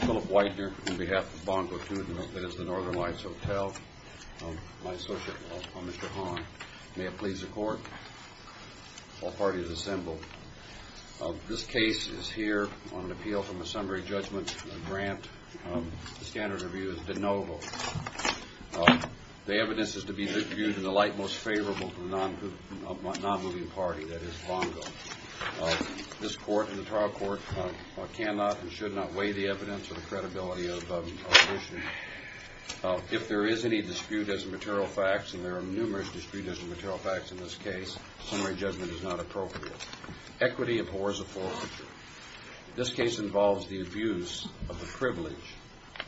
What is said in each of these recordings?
Philip Widener, on behalf of Bongo II, that is the Northern Lights Hotel. My associate, Mr. Hahn. May it please the Court. All parties assembled. This case is here on an appeal from a summary judgment grant. The standard of view is de novo. The evidence is to be viewed in the light most favorable to the non-moving party, that is, Bongo. This Court and the trial court cannot and should not weigh the evidence or the credibility of the issue. If there is any dispute as to material facts, and there are numerous disputes as to material facts in this case, summary judgment is not appropriate. Equity abhors a foreclosure. This case involves the abuse of the privilege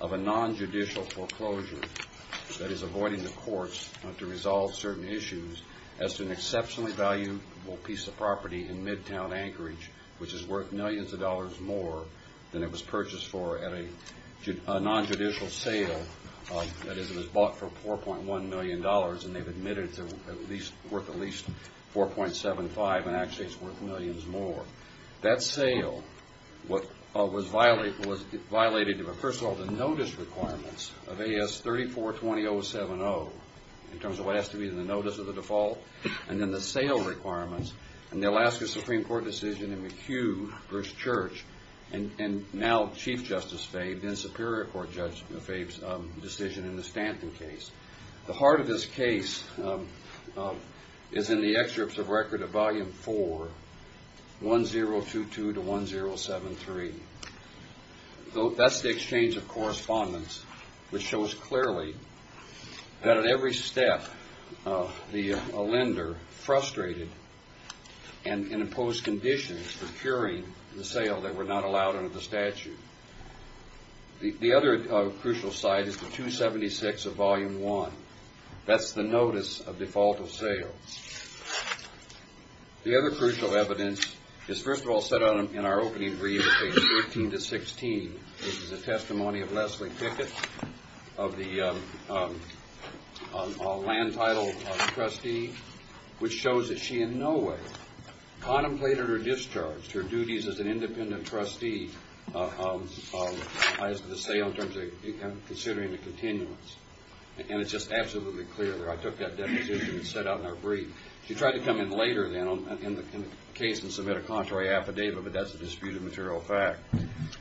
of a non-judicial foreclosure that is avoiding the courts to resolve certain issues as to an exceptionally valuable piece of property in Midtown Anchorage, which is worth millions of dollars more than it was purchased for at a non-judicial sale. That is, it was bought for $4.1 million and they've admitted it's worth at least $4.75 and actually it's worth millions more. That sale was violated. First of all, the notice requirements of AS 34-20070, in terms of what has to be in the notice of the default, and then the sale requirements and the Alaska Supreme Court decision in McHugh v. Church and now Chief Justice Fabe and Superior Court Judge Fabe's decision in the Stanton case. The heart of this case is in the excerpts of Record of Volume 4, 1022-1073. That's the exchange of correspondence which shows clearly that at every step, the lender frustrated and imposed conditions for curing the sale that were not allowed under the statute. The other crucial side is the 276 of Volume 1. That's the notice of default of sale. The other crucial evidence is, first of all, set out in our opening brief, pages 13-16. This is a testimony of Leslie Pickett of the land title of trustee, which shows that she in no way contemplated her discharge, her duties as an independent trustee as to the sale in terms of considering the continuance. And it's just absolutely clear there. I took that deposition and set it out in our brief. She tried to come in later then in the case and submit a contrary affidavit, but that's a disputed material fact.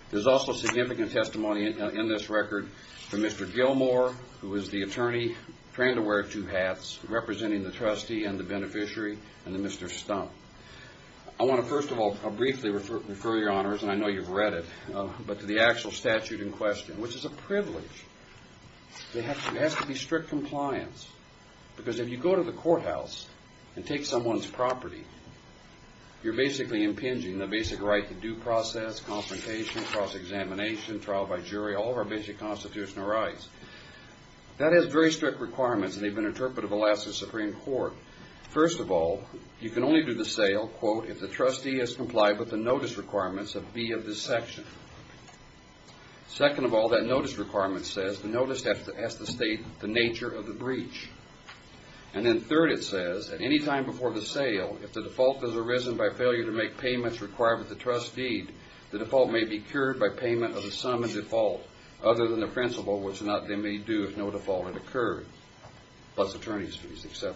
There's also significant testimony in this record from Mr. Gilmore, who is the attorney trained to wear two hats, representing the trustee and the beneficiary, and Mr. Stump. I want to, first of all, briefly refer your honors, and I know you've read it, but to the actual statute in question, which is a privilege. It has to be strict compliance, because if you go to the courthouse and take someone's property, you're basically impinging the basic right to due process, consultation, cross-examination, trial by jury, all of our basic constitutional rights. That has very strict requirements, and they've been interpreted to the last of the Supreme Court. First of all, you can only do the sale, quote, if the trustee has complied with the notice requirements of B of this section. Second of all, that notice requirement says the notice has to state the nature of the breach. And then third, it says, at any time before the sale, if the default has arisen by failure to make payments required with the trustee, the default may be cured by payment of the sum in default, other than the principal, which they may do if no default had occurred, plus attorney's fees, et cetera.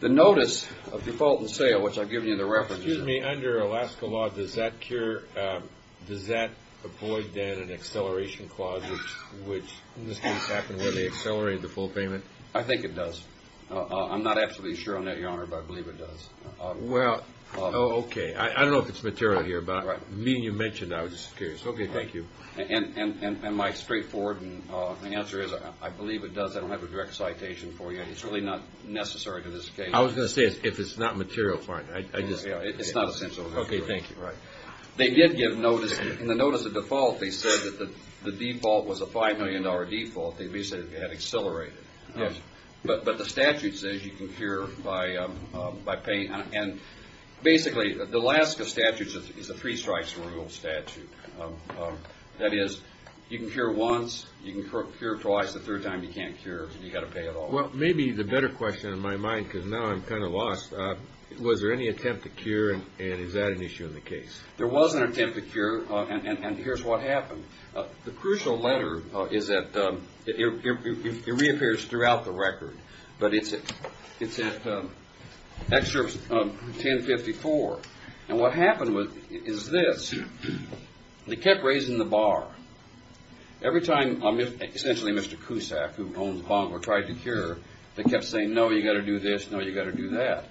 The notice of default and sale, which I've given you in the reference. Excuse me. Under Alaska law, does that avoid, then, an acceleration clause, which in this case happened where they accelerated the full payment? I think it does. I'm not absolutely sure on that, Your Honor, but I believe it does. Well, okay. I don't know if it's material here, but meeting you mentioned it, I was just curious. Okay, thank you. And my straightforward answer is I believe it does. I don't have a direct citation for you, and it's really not necessary in this case. I was going to say, if it's not material, fine. It's not essential. Okay, thank you. Right. They did give notice. In the notice of default, they said that the default was a $5 million default. They basically had accelerated it. Yes. But the statute says you can cure by paying. And basically, the Alaska statute is a three strikes rule statute. That is, you can cure once, you can cure twice, the third time you can't cure, so you've got to pay it all. Well, maybe the better question in my mind, because now I'm kind of lost, was there any attempt to cure, and is that an issue in the case? There was an attempt to cure, and here's what happened. The crucial letter is that it reappears throughout the record, but it's at Excerpt 1054. And what happened is this. They kept raising the bar. Every time, essentially, Mr. Cusack, who owns Bongo, tried to cure, they kept saying, no, you've got to do this, no, you've got to do that.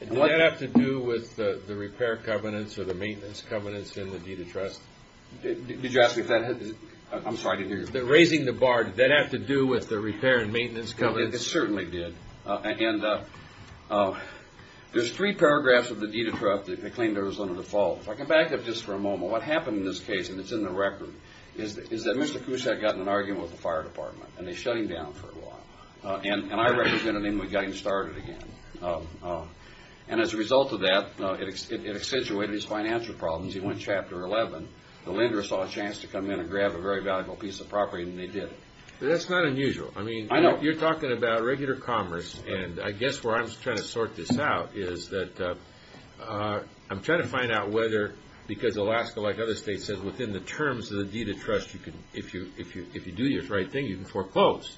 Did that have to do with the repair covenants or the maintenance covenants in the deed of trust? Did you ask if that had to do with it? I'm sorry, I didn't hear you. Raising the bar, did that have to do with the repair and maintenance covenants? It certainly did. And there's three paragraphs of the deed of trust that claim there was no default. If I can back up just for a moment, what happened in this case, and it's in the record, is that Mr. Cusack got in an argument with the fire department, and they shut him down for a while. And I represented him and got him started again. And as a result of that, it accentuated his financial problems. He went to Chapter 11. The lender saw a chance to come in and grab a very valuable piece of property, and they did. That's not unusual. I know. You're talking about regular commerce, and I guess where I'm trying to sort this out is that I'm trying to find out whether, because Alaska, like other states, says within the terms of the deed of trust, if you do the right thing, you can foreclose.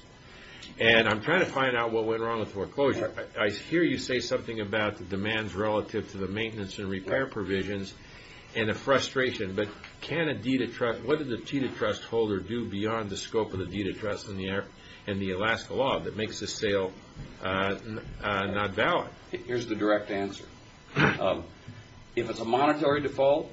And I'm trying to find out what went wrong with foreclosure. I hear you say something about the demands relative to the maintenance and repair provisions and a frustration. But can a deed of trust, what did the deed of trust holder do beyond the scope of the deed of trust and the Alaska law that makes this sale not valid? Here's the direct answer. If it's a monetary default,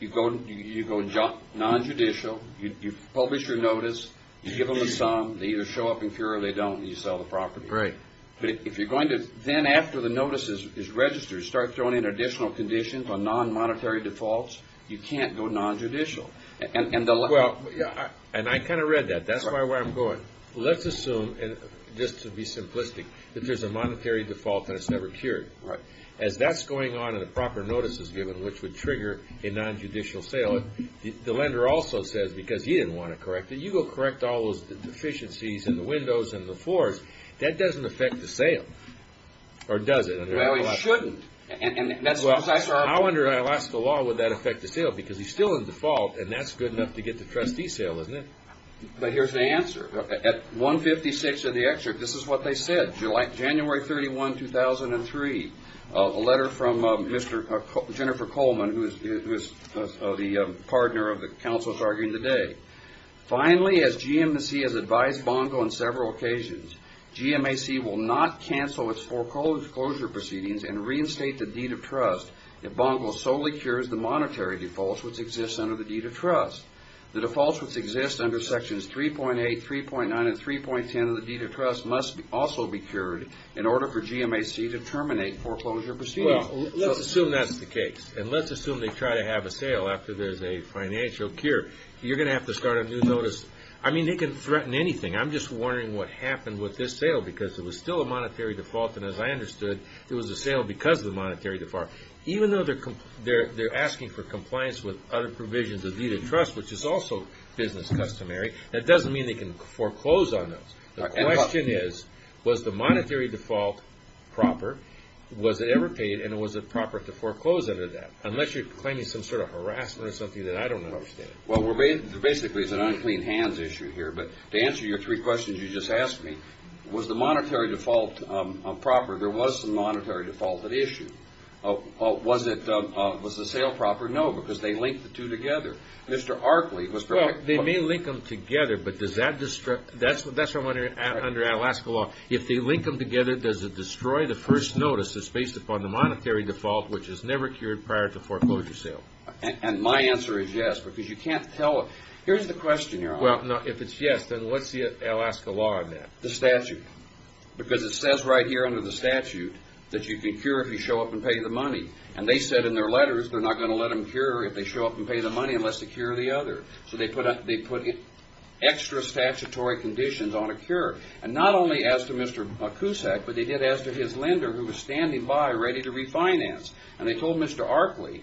you go nonjudicial. You publish your notice. You give them a sum. They either show up in clear or they don't, and you sell the property. Right. But if you're going to then, after the notice is registered, start throwing in additional conditions on nonmonetary defaults, you can't go nonjudicial. And I kind of read that. That's where I'm going. Let's assume, just to be simplistic, that there's a monetary default and it's never cured. Right. As that's going on and a proper notice is given, which would trigger a nonjudicial sale, the lender also says, because he didn't want to correct it, you go correct all those deficiencies in the windows and the floors. That doesn't affect the sale, or does it? Well, it shouldn't. And that's precisely our point. Well, how under Alaska law would that affect the sale? Because he's still in default, and that's good enough to get the trustee sale, isn't it? But here's the answer. At 156 of the excerpt, this is what they said, January 31, 2003, a letter from Mr. Jennifer Coleman, who is the partner of the counsels arguing today. Finally, as GMAC has advised Bongo on several occasions, GMAC will not cancel its foreclosure proceedings and reinstate the deed of trust if Bongo solely cures the monetary defaults which exist under the deed of trust. The defaults which exist under Sections 3.8, 3.9, and 3.10 of the deed of trust must also be cured in order for GMAC to terminate foreclosure proceedings. Well, let's assume that's the case, and let's assume they try to have a sale after there's a financial cure. You're going to have to start a new notice. I mean, they can threaten anything. I'm just wondering what happened with this sale because it was still a monetary default, and as I understood, it was a sale because of the monetary default. Even though they're asking for compliance with other provisions of deed of trust, which is also business customary, that doesn't mean they can foreclose on those. The question is, was the monetary default proper? Was it ever paid, and was it proper to foreclose under that? Unless you're claiming some sort of harassment or something that I don't understand. Well, basically it's an unclean hands issue here, but to answer your three questions you just asked me, was the monetary default proper? There was some monetary default at issue. Was the sale proper? No, because they linked the two together. Mr. Arkley was perfect. Well, they may link them together, but that's what I'm wondering under Alaska law. If they link them together, does it destroy the first notice that's based upon the monetary default, which is never cured prior to foreclosure sale? And my answer is yes, because you can't tell it. Here's the question, Your Honor. Well, if it's yes, then what's the Alaska law on that? The statute. Because it says right here under the statute that you can cure if you show up and pay the money, and they said in their letters they're not going to let them cure if they show up and pay the money unless they cure the other. So they put extra statutory conditions on a cure, and not only as to Mr. Kusak, but they did as to his lender who was standing by ready to refinance, and they told Mr. Arkley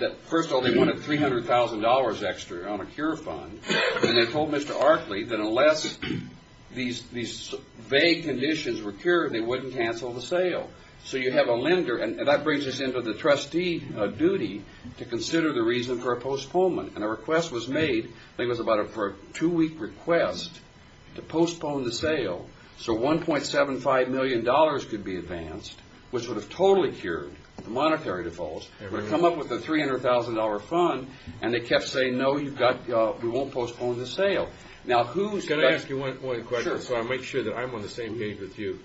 that first of all they wanted $300,000 extra on a cure fund, and they told Mr. Arkley that unless these vague conditions were cured, they wouldn't cancel the sale. So you have a lender, and that brings us into the trustee duty to consider the reason for a postponement, and a request was made, I think it was about a two-week request to postpone the sale so $1.75 million could be advanced, which would have totally cured the monetary defaults. But come up with a $300,000 fund, and they kept saying, no, we won't postpone the sale. Can I ask you one question? Sure. So I'll make sure that I'm on the same page with you.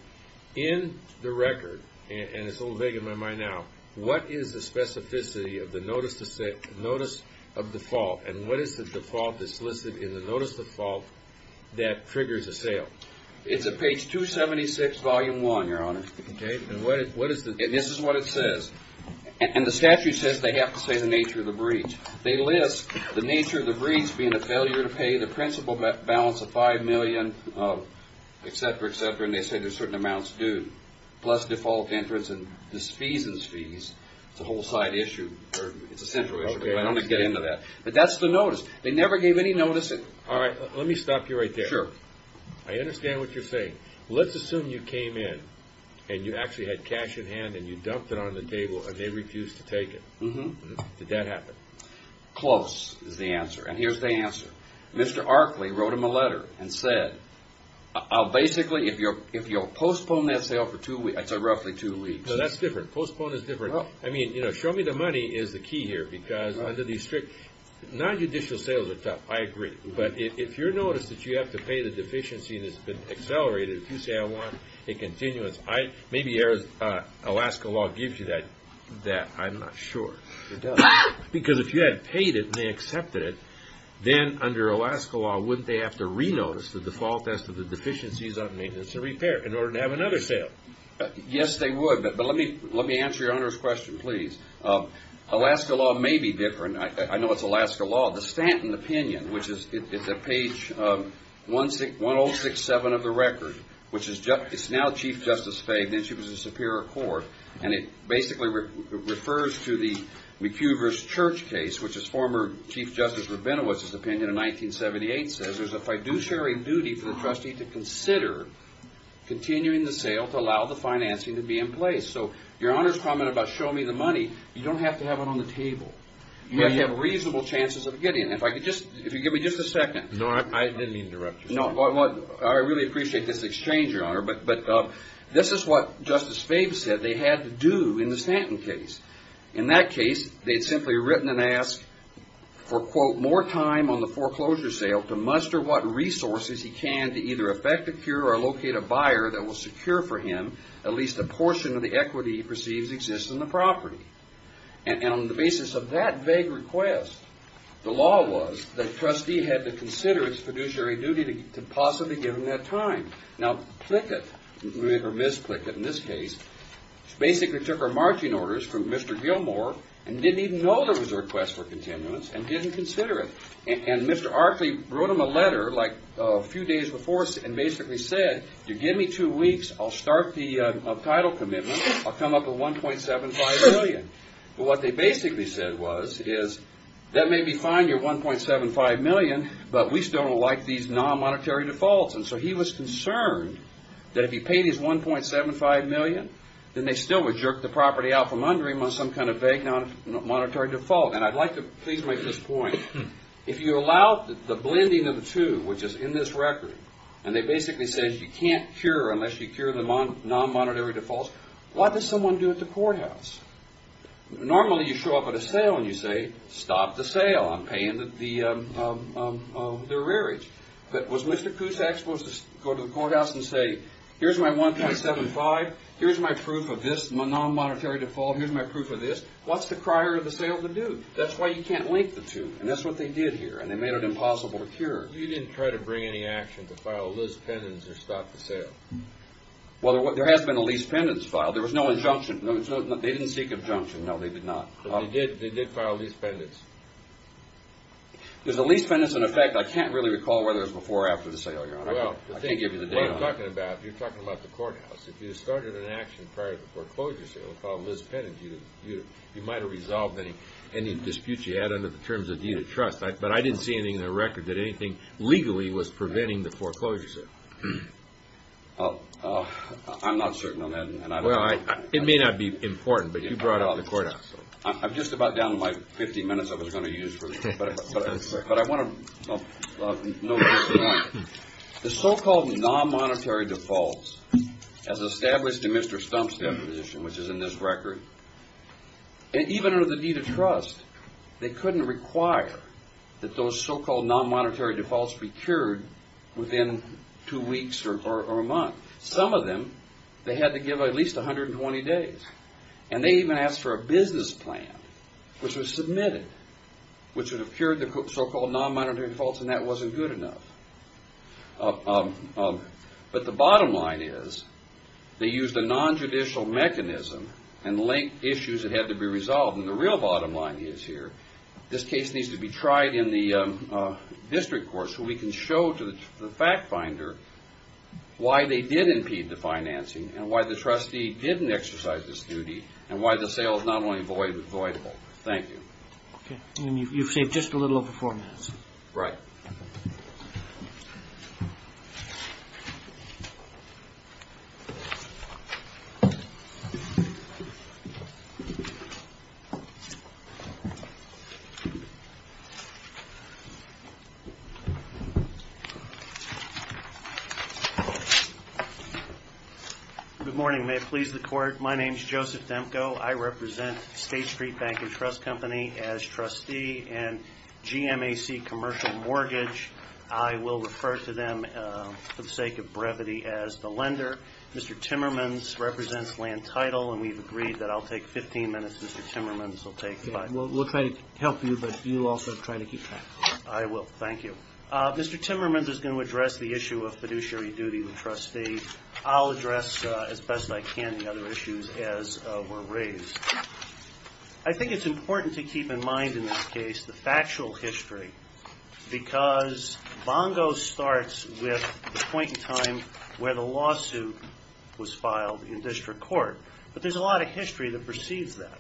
In the record, and it's a little vague in my mind now, what is the specificity of the notice of default, and what is the default that's listed in the notice of default that triggers a sale? It's at page 276, volume 1, Your Honor. Okay, and what is it? This is what it says. And the statute says they have to say the nature of the breach. They list the nature of the breach being a failure to pay the principal balance of $5 million, etc., etc., and they say there's certain amounts due, plus default entrance and fees and fees. It's a whole side issue, or it's a central issue, but I don't want to get into that. But that's the notice. They never gave any notice. All right, let me stop you right there. Sure. I understand what you're saying. Let's assume you came in, and you actually had cash in hand, and you dumped it on the table, and they refused to take it. Did that happen? Close is the answer, and here's the answer. Mr. Arkley wrote him a letter and said, I'll basically, if you'll postpone that sale for roughly two weeks. No, that's different. Postpone is different. I mean, you know, show me the money is the key here, because under these strict, nonjudicial sales are tough, I agree, but if you're noticed that you have to pay the deficiency and it's been accelerated, if you say I want a continuance, maybe Alaska law gives you that. I'm not sure. It does. Because if you had paid it and they accepted it, then under Alaska law, wouldn't they have to re-notice the default test of the deficiencies on maintenance and repair in order to have another sale? Yes, they would, but let me answer your owner's question, please. Alaska law may be different. I know it's Alaska law. The Stanton opinion, which is at page 1067 of the record, which is now Chief Justice Faye, then she was the Superior Court, and it basically refers to the McHugh v. Church case, which is former Chief Justice Rabinowitz's opinion in 1978, says, if I do share a duty for the trustee to consider continuing the sale to allow the financing to be in place. So your owner's comment about show me the money, you don't have to have it on the table. You have to have reasonable chances of getting it. If you could give me just a second. No, I didn't mean to interrupt you. I really appreciate this exchange, Your Honor, but this is what Justice Faye said they had to do in the Stanton case. In that case, they had simply written and asked for, quote, more time on the foreclosure sale to muster what resources he can to either effect a cure or locate a buyer that will secure for him at least a portion of the equity he perceives exists in the property. And on the basis of that vague request, the law was that the trustee had to consider its fiduciary duty to possibly give him that time. Now, Plickett, or Ms. Plickett in this case, basically took her marching orders from Mr. Gilmore and didn't even know there was a request for continuance and didn't consider it. And Mr. Archley wrote him a letter like a few days before and basically said, you give me two weeks, I'll start the title commitment, I'll come up with $1.75 million. What they basically said was, that may be fine, your $1.75 million, but we still don't like these non-monetary defaults. And so he was concerned that if he paid his $1.75 million, then they still would jerk the property out from under him on some kind of vague monetary default. And I'd like to please make this point. If you allow the blending of the two, which is in this record, and they basically said you can't cure unless you cure the non-monetary defaults, what does someone do at the courthouse? Normally you show up at a sale and you say, stop the sale, I'm paying the rearage. But was Mr. Cusack supposed to go to the courthouse and say, here's my $1.75, here's my proof of this non-monetary default, here's my proof of this, what's the crier of the sale to do? That's why you can't link the two, and that's what they did here, and they made it impossible to cure. You didn't try to bring any action to file a lease pendants or stop the sale. Well, there has been a lease pendants filed. There was no injunction. They didn't seek injunction, no, they did not. But they did file a lease pendants. There's a lease pendants in effect. I can't really recall whether it was before or after the sale, Your Honor. I can't give you the date on it. What I'm talking about, you're talking about the courthouse. If you had started an action prior to the foreclosure sale and filed a lease pendants, you might have resolved any disputes you had under the terms of deed of trust. But I didn't see anything in the record that anything legally was preventing the foreclosure sale. I'm not certain on that. Well, it may not be important, but you brought it up in the courthouse. I'm just about down to my 50 minutes I was going to use for this, but I want to note this tonight. The so-called non-monetary defaults, as established in Mr. Stump's definition, which is in this record, even under the deed of trust, they couldn't require that those so-called non-monetary defaults be cured within two weeks or a month. Some of them, they had to give at least 120 days. And they even asked for a business plan, which was submitted, which would have cured the so-called non-monetary defaults, and that wasn't good enough. But the bottom line is they used a non-judicial mechanism and linked issues that had to be resolved. And the real bottom line is here, this case needs to be tried in the district court so we can show to the fact finder why they did impede the financing and why the trustee didn't exercise this duty and why the sale is not only void but voidable. Thank you. Okay. And you've saved just a little over four minutes. Right. Good morning. May it please the Court. My name is Joseph Demko. I represent State Street Bank and Trust Company as trustee and GMAC Commercial Mortgage. I will refer to them for the sake of brevity as the lender. Mr. Timmermans represents Land Title, and we've agreed that I'll take 15 minutes. Mr. Timmermans will take five. We'll try to help you, but you also try to keep track. I will. Thank you. Mr. Timmermans is going to address the issue of fiduciary duty with the trustee. I'll address as best I can the other issues as were raised. I think it's important to keep in mind in this case the factual history because Bongo starts with the point in time where the lawsuit was filed in district court, but there's a lot of history that precedes that.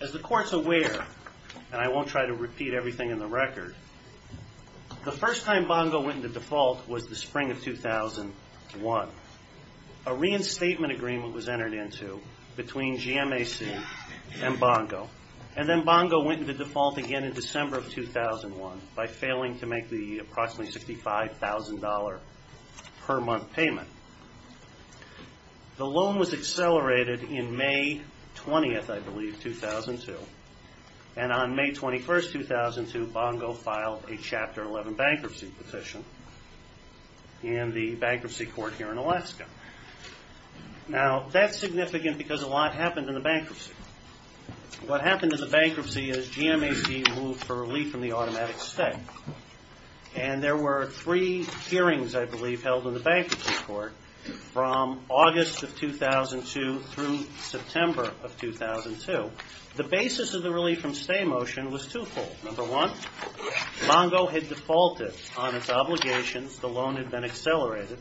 As the Court's aware, and I won't try to repeat everything in the record, the first time Bongo went into default was the spring of 2001. A reinstatement agreement was entered into between GMAC and Bongo, and then Bongo went into default again in December of 2001 by failing to make the approximately $65,000 per month payment. The loan was accelerated in May 20th, I believe, 2002, and on May 21st, 2002, Bongo filed a Chapter 11 bankruptcy petition in the bankruptcy court here in Alaska. Now, that's significant because a lot happened in the bankruptcy. What happened in the bankruptcy is GMAC moved for relief from the automatic stay, and there were three hearings, I believe, held in the bankruptcy court from August of 2002 through September of 2002. The basis of the relief from stay motion was twofold. Number one, Bongo had defaulted on its obligations. The loan had been accelerated,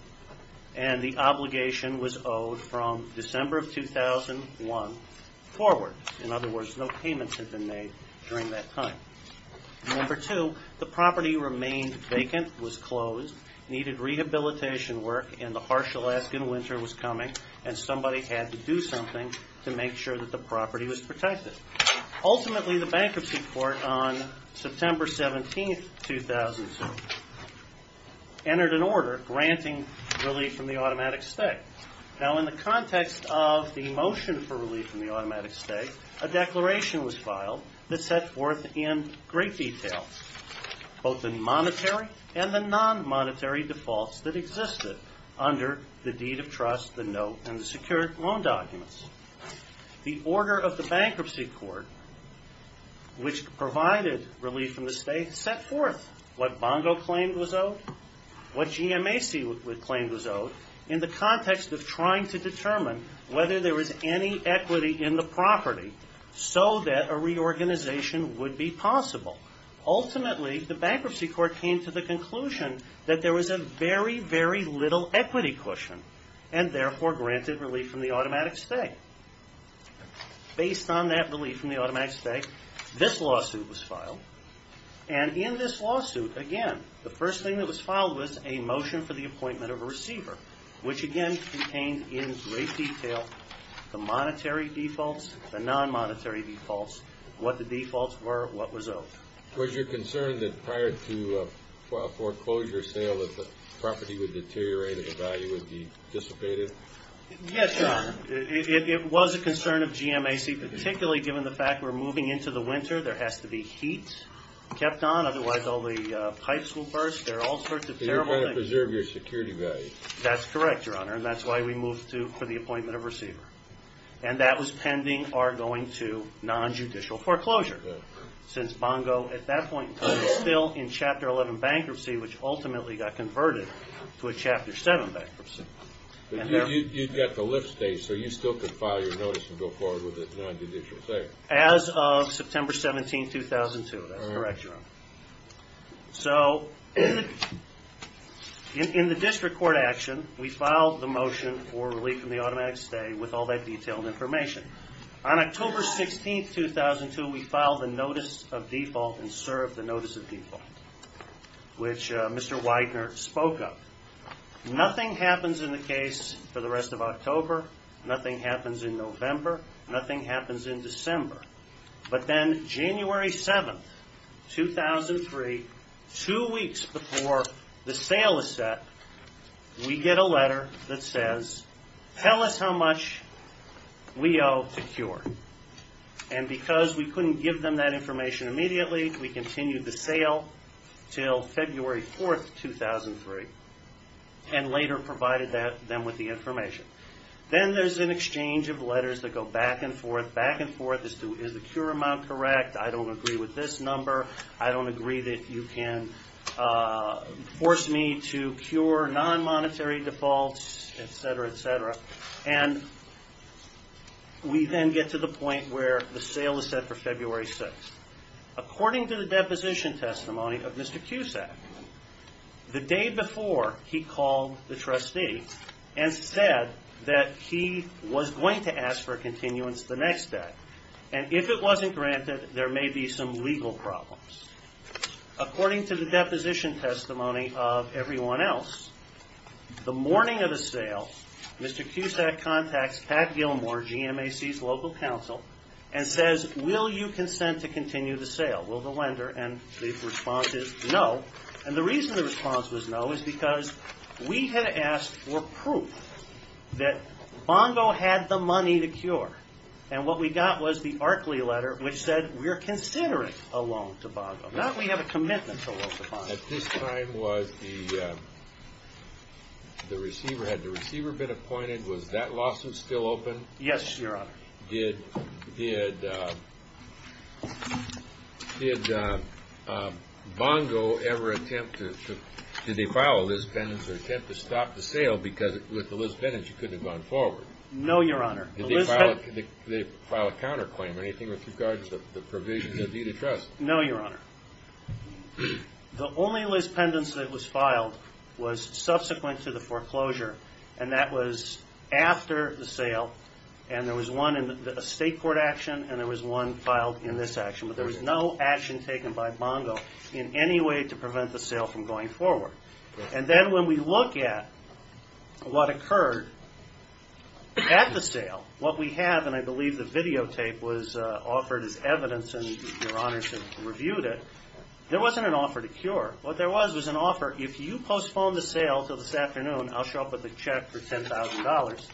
and the obligation was owed from December of 2001 forward. In other words, no payments had been made during that time. Number two, the property remained vacant, was closed, needed rehabilitation work, and the harsh Alaskan winter was coming, and somebody had to do something to make sure that the property was protected. Ultimately, the bankruptcy court on September 17th, 2002, entered an order granting relief from the automatic stay. Now, in the context of the motion for relief from the automatic stay, a declaration was filed that set forth in great detail both the monetary and the non-monetary defaults that existed under the deed of trust, the note, and the secured loan documents. The order of the bankruptcy court, which provided relief from the stay, set forth what Bongo claimed was owed, what GMAC claimed was owed, in the context of trying to determine whether there was any equity in the property so that a reorganization would be possible. Ultimately, the bankruptcy court came to the conclusion that there was a very, very little equity cushion, and therefore granted relief from the automatic stay. Based on that relief from the automatic stay, this lawsuit was filed, and in this lawsuit, again, the first thing that was filed was a motion for the appointment of a receiver, which again contained in great detail the monetary defaults, the non-monetary defaults, what the defaults were, what was owed. Was your concern that prior to a foreclosure sale that the property would deteriorate and the value would be dissipated? Yes, Your Honor. It was a concern of GMAC, particularly given the fact we're moving into the winter. There has to be heat kept on. Otherwise, all the pipes will burst. There are all sorts of terrible things. You're trying to preserve your security value. That's correct, Your Honor, and that's why we moved to the appointment of a receiver. And that was pending our going to non-judicial foreclosure since Bongo, at that point in time, was still in Chapter 11 bankruptcy, which ultimately got converted to a Chapter 7 bankruptcy. But you've got the lift stay, so you still could file your notice and go forward with a non-judicial stay. As of September 17, 2002. That's correct, Your Honor. So in the district court action, we filed the motion for relief from the automatic stay with all that detailed information. On October 16, 2002, we filed a notice of default and served the notice of default, which Mr. Widener spoke of. Nothing happens in the case for the rest of October. Nothing happens in November. Nothing happens in December. But then January 7, 2003, two weeks before the sale is set, we get a letter that says, tell us how much we owe to CURE. And because we couldn't give them that information immediately, we continued the sale until February 4, 2003, and later provided them with the information. Then there's an exchange of letters that go back and forth, back and forth as to is the CURE amount correct, I don't agree with this number, I don't agree that you can force me to cure non-monetary defaults, et cetera, et cetera. And we then get to the point where the sale is set for February 6. According to the deposition testimony of Mr. Cusack, the day before he called the trustee and said that he was going to ask for a continuance the next day. And if it wasn't granted, there may be some legal problems. According to the deposition testimony of everyone else, the morning of the sale, Mr. Cusack contacts Pat Gilmore, GMAC's local counsel, and says, will you consent to continue the sale? Will the lender? And the response is no. And the reason the response was no is because we had asked for proof that Bongo had the money to CURE. And what we got was the Arkley letter, which said we are considering a loan to Bongo. Not that we have a commitment to a loan to Bongo. At this time, was the receiver, had the receiver been appointed? Was that lawsuit still open? Yes, Your Honor. Did Bongo ever attempt to, did they file a lisbennas or attempt to stop the sale because with the lisbennas, you couldn't have gone forward? No, Your Honor. Did they file a counterclaim? Anything with regards to the provisions of the deed of trust? No, Your Honor. The only lisbennas that was filed was subsequent to the foreclosure. And that was after the sale. And there was one in a state court action, and there was one filed in this action. But there was no action taken by Bongo in any way to prevent the sale from going forward. And then when we look at what occurred at the sale, what we have, and I believe the videotape was offered as evidence, and Your Honors have reviewed it, there wasn't an offer to cure. What there was was an offer, if you postpone the sale until this afternoon, I'll show up with a check for $10,000,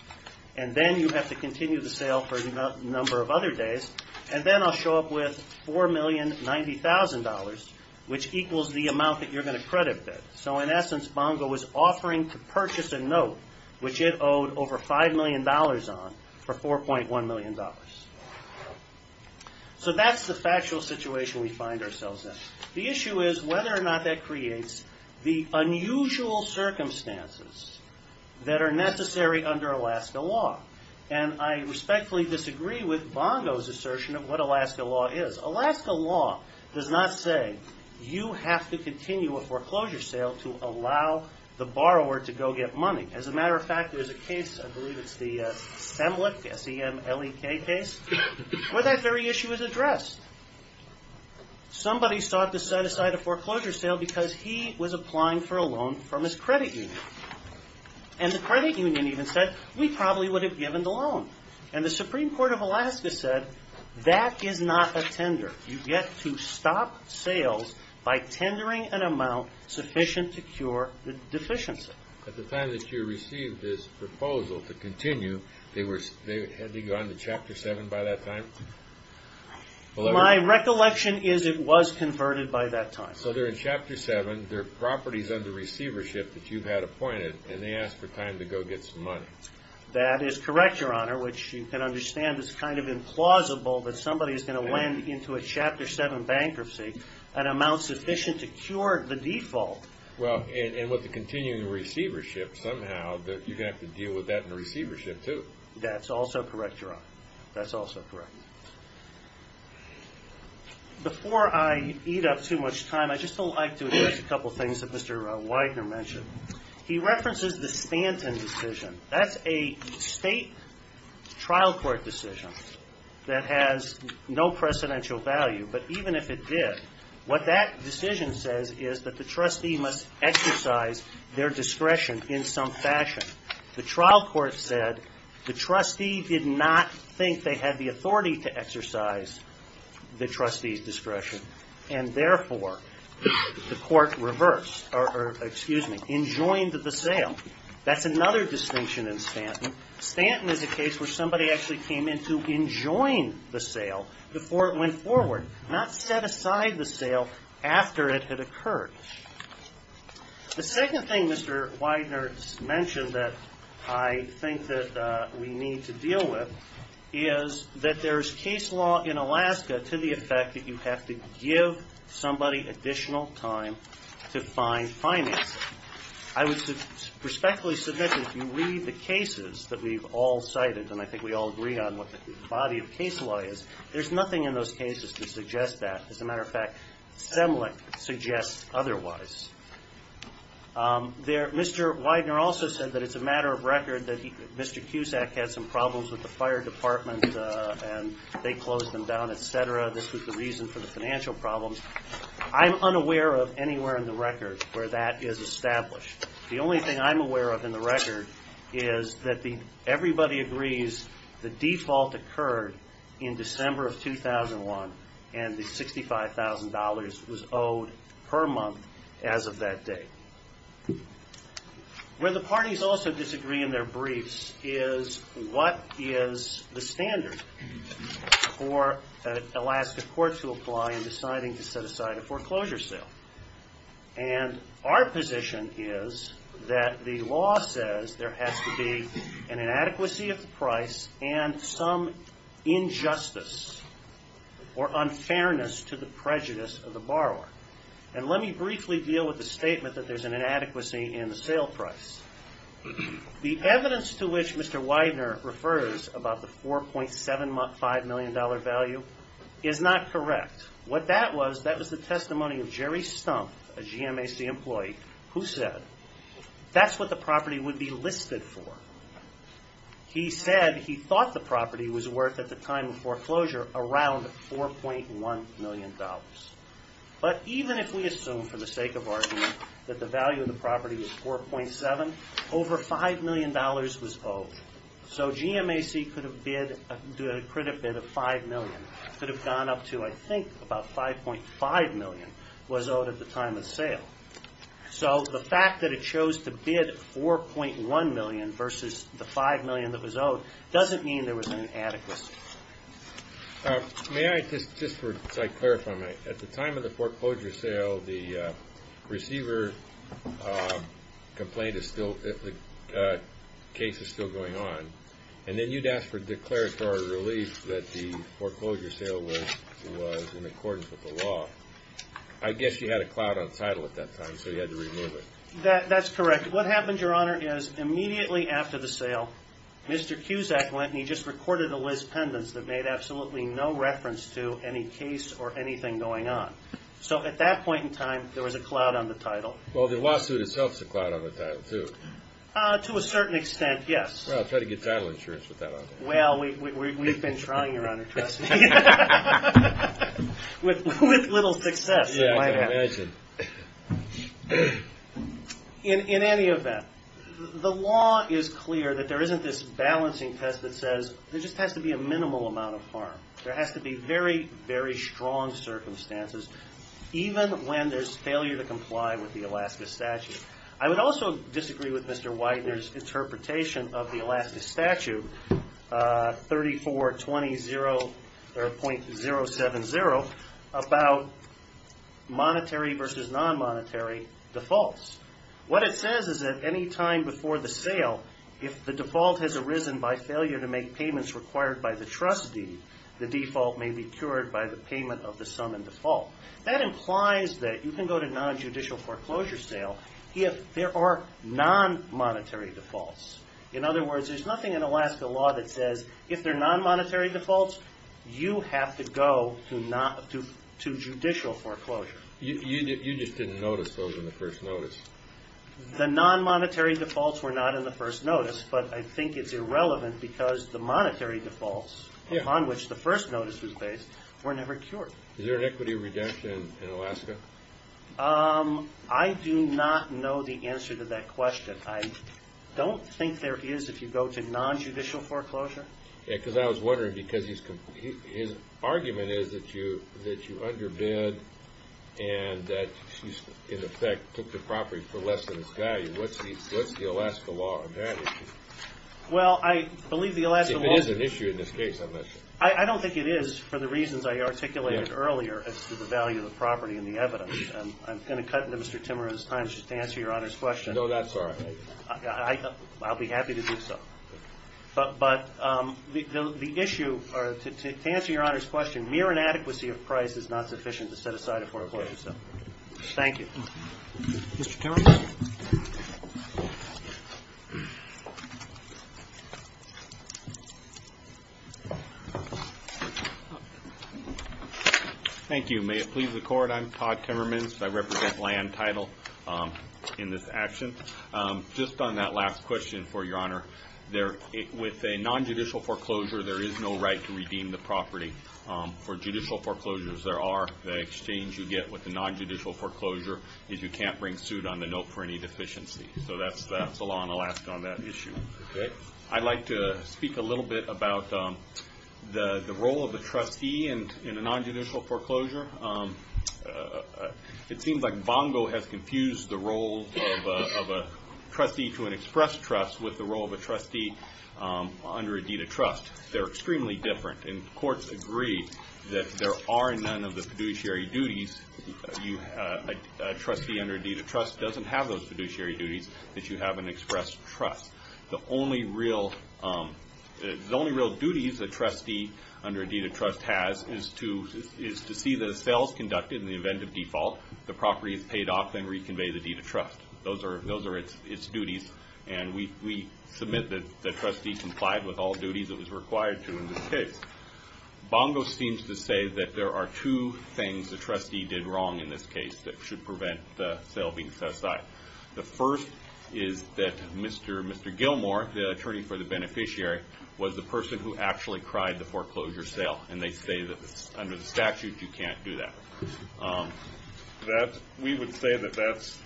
and then you have to continue the sale for a number of other days, and then I'll show up with $4,090,000, which equals the amount that you're going to credit bid. So in essence, Bongo was offering to purchase a note, which it owed over $5 million on, for $4.1 million. So that's the factual situation we find ourselves in. The issue is whether or not that creates the unusual circumstances that are necessary under Alaska law. And I respectfully disagree with Bongo's assertion of what Alaska law is. Alaska law does not say you have to continue a foreclosure sale to allow the borrower to go get money. As a matter of fact, there's a case, I believe it's the Semlek, S-E-M-L-E-K case, where that very issue is addressed. Somebody sought to set aside a foreclosure sale because he was applying for a loan from his credit union. And the credit union even said, we probably would have given the loan. And the Supreme Court of Alaska said, that is not a tender. You get to stop sales by tendering an amount sufficient to cure the deficiency. At the time that you received this proposal to continue, had they gone to Chapter 7 by that time? My recollection is it was converted by that time. So they're in Chapter 7, they're properties under receivership that you had appointed, and they asked for time to go get some money. That is correct, Your Honor, which you can understand is kind of implausible that somebody is going to lend into a Chapter 7 bankruptcy an amount sufficient to cure the default. Well, and with the continuing receivership, somehow you're going to have to deal with that in receivership, too. That's also correct, Your Honor. That's also correct. Before I eat up too much time, I'd just like to address a couple of things that Mr. Widener mentioned. He references the Stanton decision. That's a state trial court decision that has no precedential value. But even if it did, what that decision says is that the trustee must exercise their discretion in some fashion. The trial court said the trustee did not think they had the authority to exercise the trustee's discretion. And therefore, the court rejoined the sale. That's another distinction in Stanton. Stanton is a case where somebody actually came in to enjoin the sale before it went forward, not set aside the sale after it had occurred. The second thing Mr. Widener mentioned that I think that we need to deal with is that there's case law in Alaska to the effect that you have to give somebody additional time to find financing. I would respectfully submit that if you read the cases that we've all cited, and I think we all agree on what the body of case law is, there's nothing in those cases to suggest that. As a matter of fact, Semlink suggests otherwise. Mr. Widener also said that it's a matter of record that Mr. Cusack had some problems with the fire department and they closed them down, et cetera. This was the reason for the financial problems. I'm unaware of anywhere in the record where that is established. The only thing I'm aware of in the record is that everybody agrees the default occurred in December of 2001 and the $65,000 was owed per month as of that date. Where the parties also disagree in their briefs is what is the standard for Alaska courts to apply in deciding to set aside a foreclosure sale. Our position is that the law says there has to be an inadequacy of the price and some injustice or unfairness to the prejudice of the borrower. Let me briefly deal with the statement that there's an inadequacy in the sale price. The evidence to which Mr. Widener refers about the $4.75 million value is not correct. What that was, that was the testimony of Jerry Stumpf, a GMAC employee, who said that's what the property would be listed for. He said he thought the property was worth, at the time of foreclosure, around $4.1 million. But even if we assume, for the sake of argument, that the value of the property was $4.7, over $5 million was owed. So GMAC could have bid a credit bid of $5 million, could have gone up to, I think, about $5.5 million was owed at the time of sale. So the fact that it chose to bid $4.1 million versus the $5 million that was owed doesn't mean there was an inadequacy. May I just for a sec clarify, at the time of the foreclosure sale, the receiver complained that the case is still going on, and then you'd ask for declaratory relief that the foreclosure sale was in accordance with the law. I guess you had a cloud on title at that time, so you had to remove it. That's correct. What happened, Your Honor, is immediately after the sale, Mr. Cusack went and he just recorded a list of pendants that made absolutely no reference to any case or anything going on. So at that point in time, there was a cloud on the title. Well, the lawsuit itself is a cloud on the title, too. To a certain extent, yes. Well, try to get title insurance with that on there. Well, we've been trying, Your Honor, trust me. With little success, it might happen. Yeah, I imagine. In any event, the law is clear that there isn't this balancing test that says there just has to be a minimal amount of harm. There has to be very, very strong circumstances, even when there's failure to comply with the Alaska statute. I would also disagree with Mr. Widener's interpretation of the Alaska statute, 3420.070, about monetary versus non-monetary defaults. What it says is that any time before the sale, if the default has arisen by failure to make payments required by the trustee, the default may be cured by the payment of the sum in default. That implies that you can go to non-judicial foreclosure sale if there are non-monetary defaults. In other words, there's nothing in Alaska law that says if there are non-monetary defaults, you have to go to judicial foreclosure. You just didn't notice those in the first notice. The non-monetary defaults were not in the first notice, but I think it's irrelevant because the monetary defaults upon which the first notice was based were never cured. Is there an equity reduction in Alaska? I do not know the answer to that question. I don't think there is if you go to non-judicial foreclosure. I was wondering because his argument is that you underbid and that you, in effect, took the property for less than its value. What's the Alaska law on that issue? Well, I believe the Alaska law... If it is an issue in this case, I'm not sure. I don't think it is for the reasons I articulated earlier as to the value of the property and the evidence. I'm going to cut into Mr. Timmerman's time just to answer Your Honor's question. No, that's all right. I'll be happy to do so. But to answer Your Honor's question, mere inadequacy of price is not sufficient to set aside a foreclosure. Thank you. Mr. Timmerman. Thank you. May it please the Court, I'm Todd Timmerman. I represent land title in this action. Just on that last question for Your Honor, with a non-judicial foreclosure, there is no right to redeem the property. For judicial foreclosures, there are. The exchange you get with a non-judicial foreclosure is you can't bring suit on the note for any deficiency. That's the law in Alaska on that issue. I'd like to speak a little bit about the role of the trustee in a non-judicial foreclosure. It seems like Bongo has confused the role of a trustee to an expressed trust with the role of a trustee under a deed of trust. They're extremely different. And courts agree that there are none of the fiduciary duties. A trustee under a deed of trust doesn't have those fiduciary duties that you have an expressed trust. The only real duties a trustee under a deed of trust has is to see the sales conducted in the event of default, the property is paid off, then reconvey the deed of trust. Those are its duties, and we submit that the trustee complied with all duties it was required to in this case. Bongo seems to say that there are two things the trustee did wrong in this case that should prevent the sale being set aside. The first is that Mr. Gilmore, the attorney for the beneficiary, was the person who actually cried the foreclosure sale, and they say that under the statute you can't do that. We would say that that's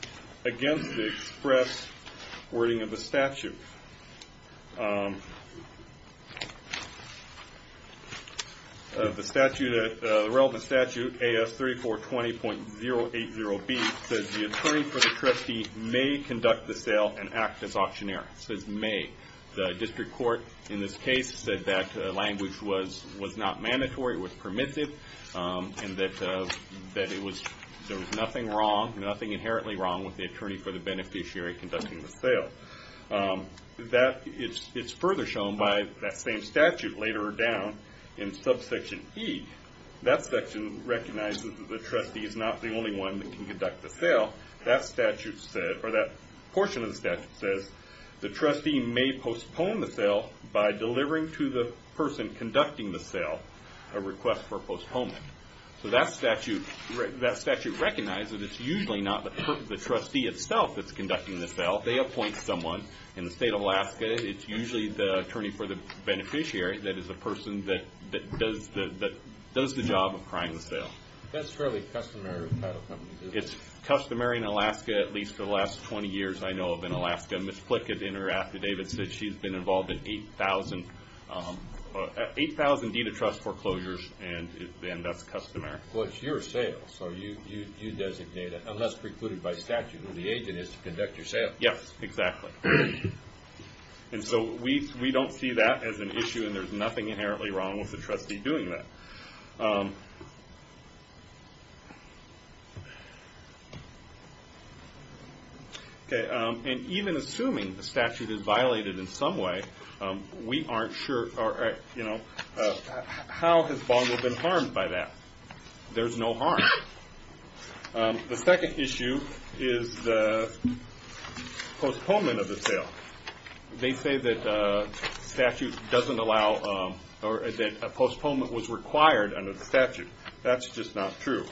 against the express wording of the statute. The relevant statute, AS3420.080B, says the attorney for the trustee may conduct the sale and act as auctioneer. It says may. The district court in this case said that language was not mandatory, it was permissive, and that there was nothing inherently wrong with the attorney for the beneficiary conducting the sale. It's further shown by that same statute later down in subsection E. That section recognizes that the trustee is not the only one that can conduct the sale. That portion of the statute says the trustee may postpone the sale by delivering to the person conducting the sale a request for postponement. That statute recognizes it's usually not the trustee itself that's conducting the sale. They appoint someone. In the state of Alaska, it's usually the attorney for the beneficiary that is the person that does the job of crying the sale. That's fairly customary with title companies. It's customary in Alaska, at least for the last 20 years I know of in Alaska. Ms. Plickett in her affidavit said she's been involved in 8,000 deed of trust foreclosures, and that's customary. It's your sale, so you designate it, unless precluded by statute. The agent is to conduct your sale. Yes, exactly. We don't see that as an issue, and there's nothing inherently wrong with the trustee doing that. Even assuming the statute is violated in some way, how has Bongo been harmed by that? There's no harm. The second issue is the postponement of the sale. They say that a postponement was required under the statute. That's just not true.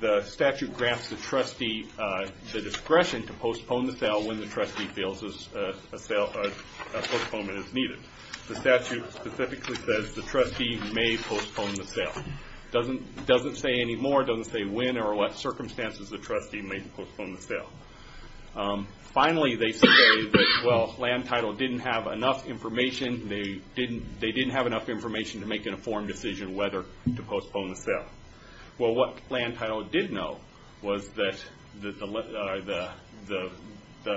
The statute grants the trustee the discretion to postpone the sale when the trustee feels a postponement is needed. The statute specifically says the trustee may postpone the sale. It doesn't say anymore. It doesn't say when or what circumstances the trustee may postpone the sale. Finally, they say that Land Title didn't have enough information. They didn't have enough information to make an informed decision whether to postpone the sale. What Land Title did know was that the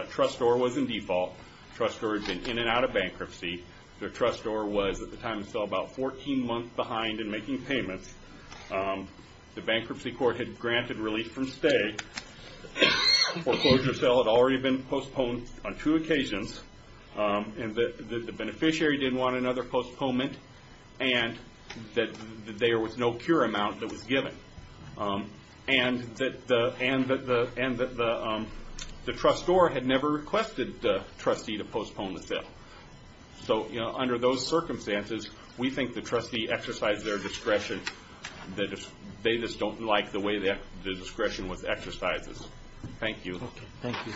trustor was in default. The trustor had been in and out of bankruptcy. The trustor was, at the time of sale, about 14 months behind in making payments. The bankruptcy court had granted relief from stay. The foreclosure sale had already been postponed on two occasions. The beneficiary didn't want another postponement, and that there was no cure amount that was given, and that the trustor had never requested the trustee to postpone the sale. So under those circumstances, we think the trustee exercised their discretion. They just don't like the way the discretion was exercised. Thank you. Okay, thank you.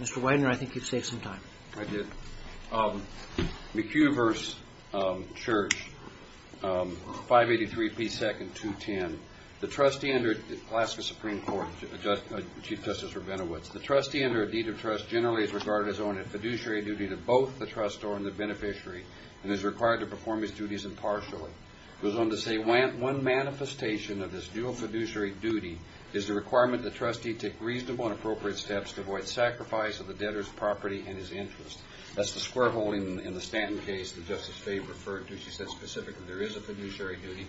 Mr. Widener, I think you've saved some time. I did. McHugh v. Church, 583p2-210. The trustee under the Alaska Supreme Court, Chief Justice Rabinowitz, the trustee under a deed of trust generally is regarded as owing a fiduciary duty to both the trustor and the beneficiary and is required to perform his duties impartially. He goes on to say, One manifestation of this dual fiduciary duty is the requirement that the trustee take reasonable and appropriate steps to avoid sacrifice of the debtor's property and his interests. That's the square hole in the Stanton case that Justice Faye referred to. She said specifically there is a fiduciary duty.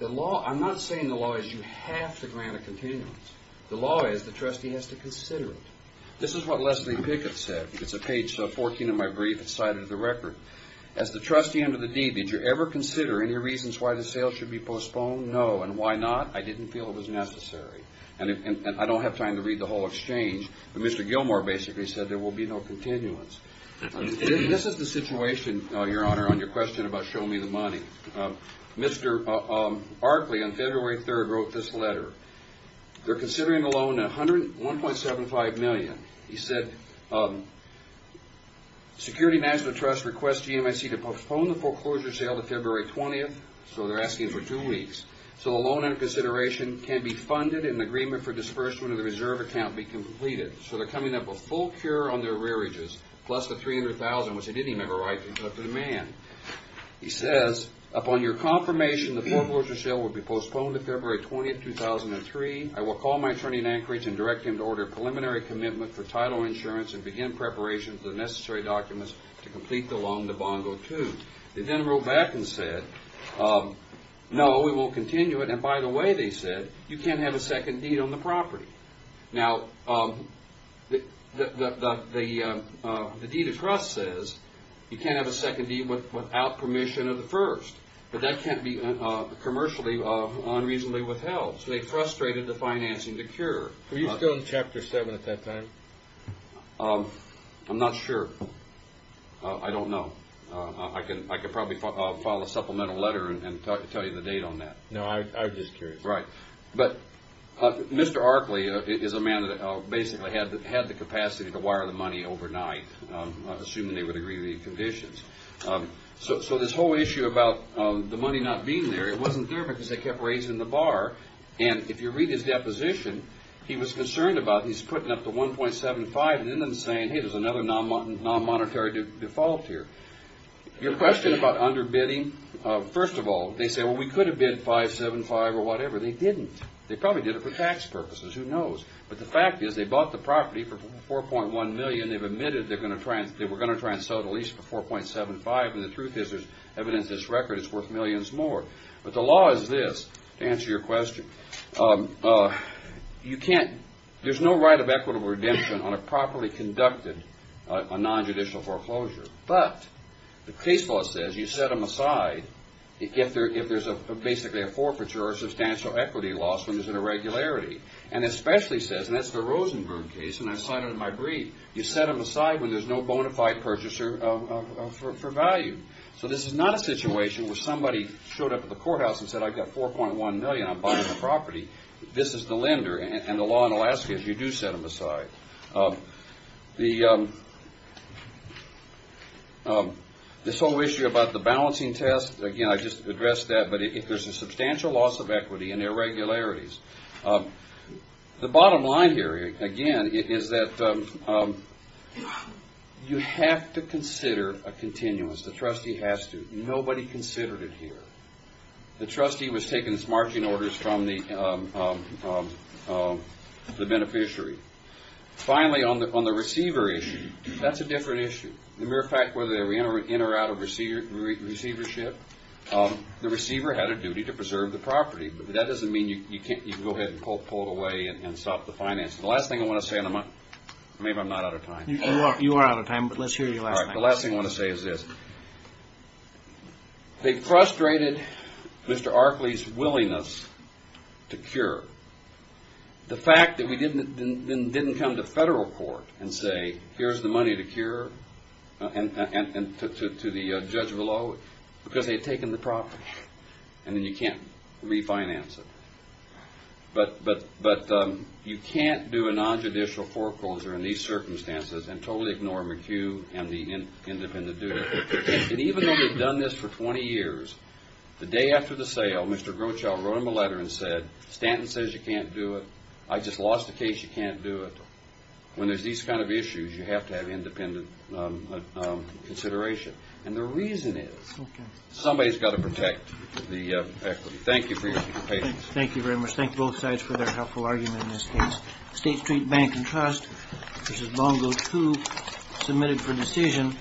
I'm not saying the law is you have to grant a continuance. The law is the trustee has to consider it. This is what Leslie Pickett said. It's on page 14 of my brief. It's cited in the record. As the trustee under the deed, did you ever consider any reasons why the sale should be postponed? No, and why not? I didn't feel it was necessary. And I don't have time to read the whole exchange, but Mr. Gilmore basically said there will be no continuance. This is the situation, Your Honor, on your question about show me the money. Mr. Barclay on February 3 wrote this letter. They're considering a loan of $1.75 million. He said Security National Trust requests GMIC to postpone the foreclosure sale to February 20th. So they're asking for two weeks. So the loan under consideration can be funded and an agreement for disbursement of the reserve account be completed. So they're coming up with full cure on their rearages plus the $300,000, which they didn't even have a right to, except for the man. He says, upon your confirmation, the foreclosure sale will be postponed to February 20th, 2003. I will call my attorney in Anchorage and direct him to order a preliminary commitment for title insurance and begin preparation for the necessary documents to complete the loan to Bongo II. They then wrote back and said, no, we won't continue it. And by the way, they said, you can't have a second deed on the property. Now, the deed of trust says you can't have a second deed without permission of the first, but that can't be commercially unreasonably withheld. So they frustrated the financing to cure. Were you still in Chapter 7 at that time? I'm not sure. I don't know. I could probably file a supplemental letter and tell you the date on that. No, I'm just curious. Right. But Mr. Arkley is a man that basically had the capacity to wire the money overnight, assuming they would agree to the conditions. So this whole issue about the money not being there, it wasn't there because they kept raising the bar. And if you read his deposition, he was concerned about he's putting up the 1.75 and then them saying, hey, there's another non-monetary default here. Your question about underbidding, first of all, they say, well, we could have bid 5.75 or whatever. They didn't. They probably did it for tax purposes. Who knows? But the fact is they bought the property for 4.1 million. They've admitted they were going to try and sell it at least for 4.75, and the truth is there's evidence this record is worth millions more. But the law is this, to answer your question, there's no right of equitable redemption on a properly conducted non-judicial foreclosure. But the case law says you set them aside if there's basically a forfeiture or a substantial equity loss when there's an irregularity. And it especially says, and that's the Rosenberg case, and I cited it in my brief, you set them aside when there's no bona fide purchaser for value. So this is not a situation where somebody showed up at the courthouse and said, I've got 4.1 million, I'm buying the property. This is the lender, and the law in Alaska is you do set them aside. This whole issue about the balancing test, again, I just addressed that, but if there's a substantial loss of equity and irregularities, the bottom line here, again, is that you have to consider a continuous. The trustee has to. Nobody considered it here. The trustee was taking these marching orders from the beneficiary. Finally, on the receiver issue, that's a different issue. As a matter of fact, whether they were in or out of receivership, the receiver had a duty to preserve the property. But that doesn't mean you can go ahead and pull it away and stop the financing. The last thing I want to say, and maybe I'm not out of time. You are out of time, but let's hear your last thing. The last thing I want to say is this. They frustrated Mr. Arkley's willingness to cure. The fact that we didn't come to federal court and say, here's the money to cure and to the judge below, because they had taken the property. And then you can't refinance it. But you can't do a nonjudicial foreclosure in these circumstances and totally ignore McHugh and the independent duty. And even though they've done this for 20 years, the day after the sale, Mr. Grochow wrote him a letter and said, Stanton says you can't do it. I just lost a case, you can't do it. When there's these kind of issues, you have to have independent consideration. And the reason is somebody's got to protect the equity. Thank you for your patience. Thank you very much. Thank both sides for their helpful argument in this case. State Street Bank and Trust, this is Bongo 2, submitted for decision.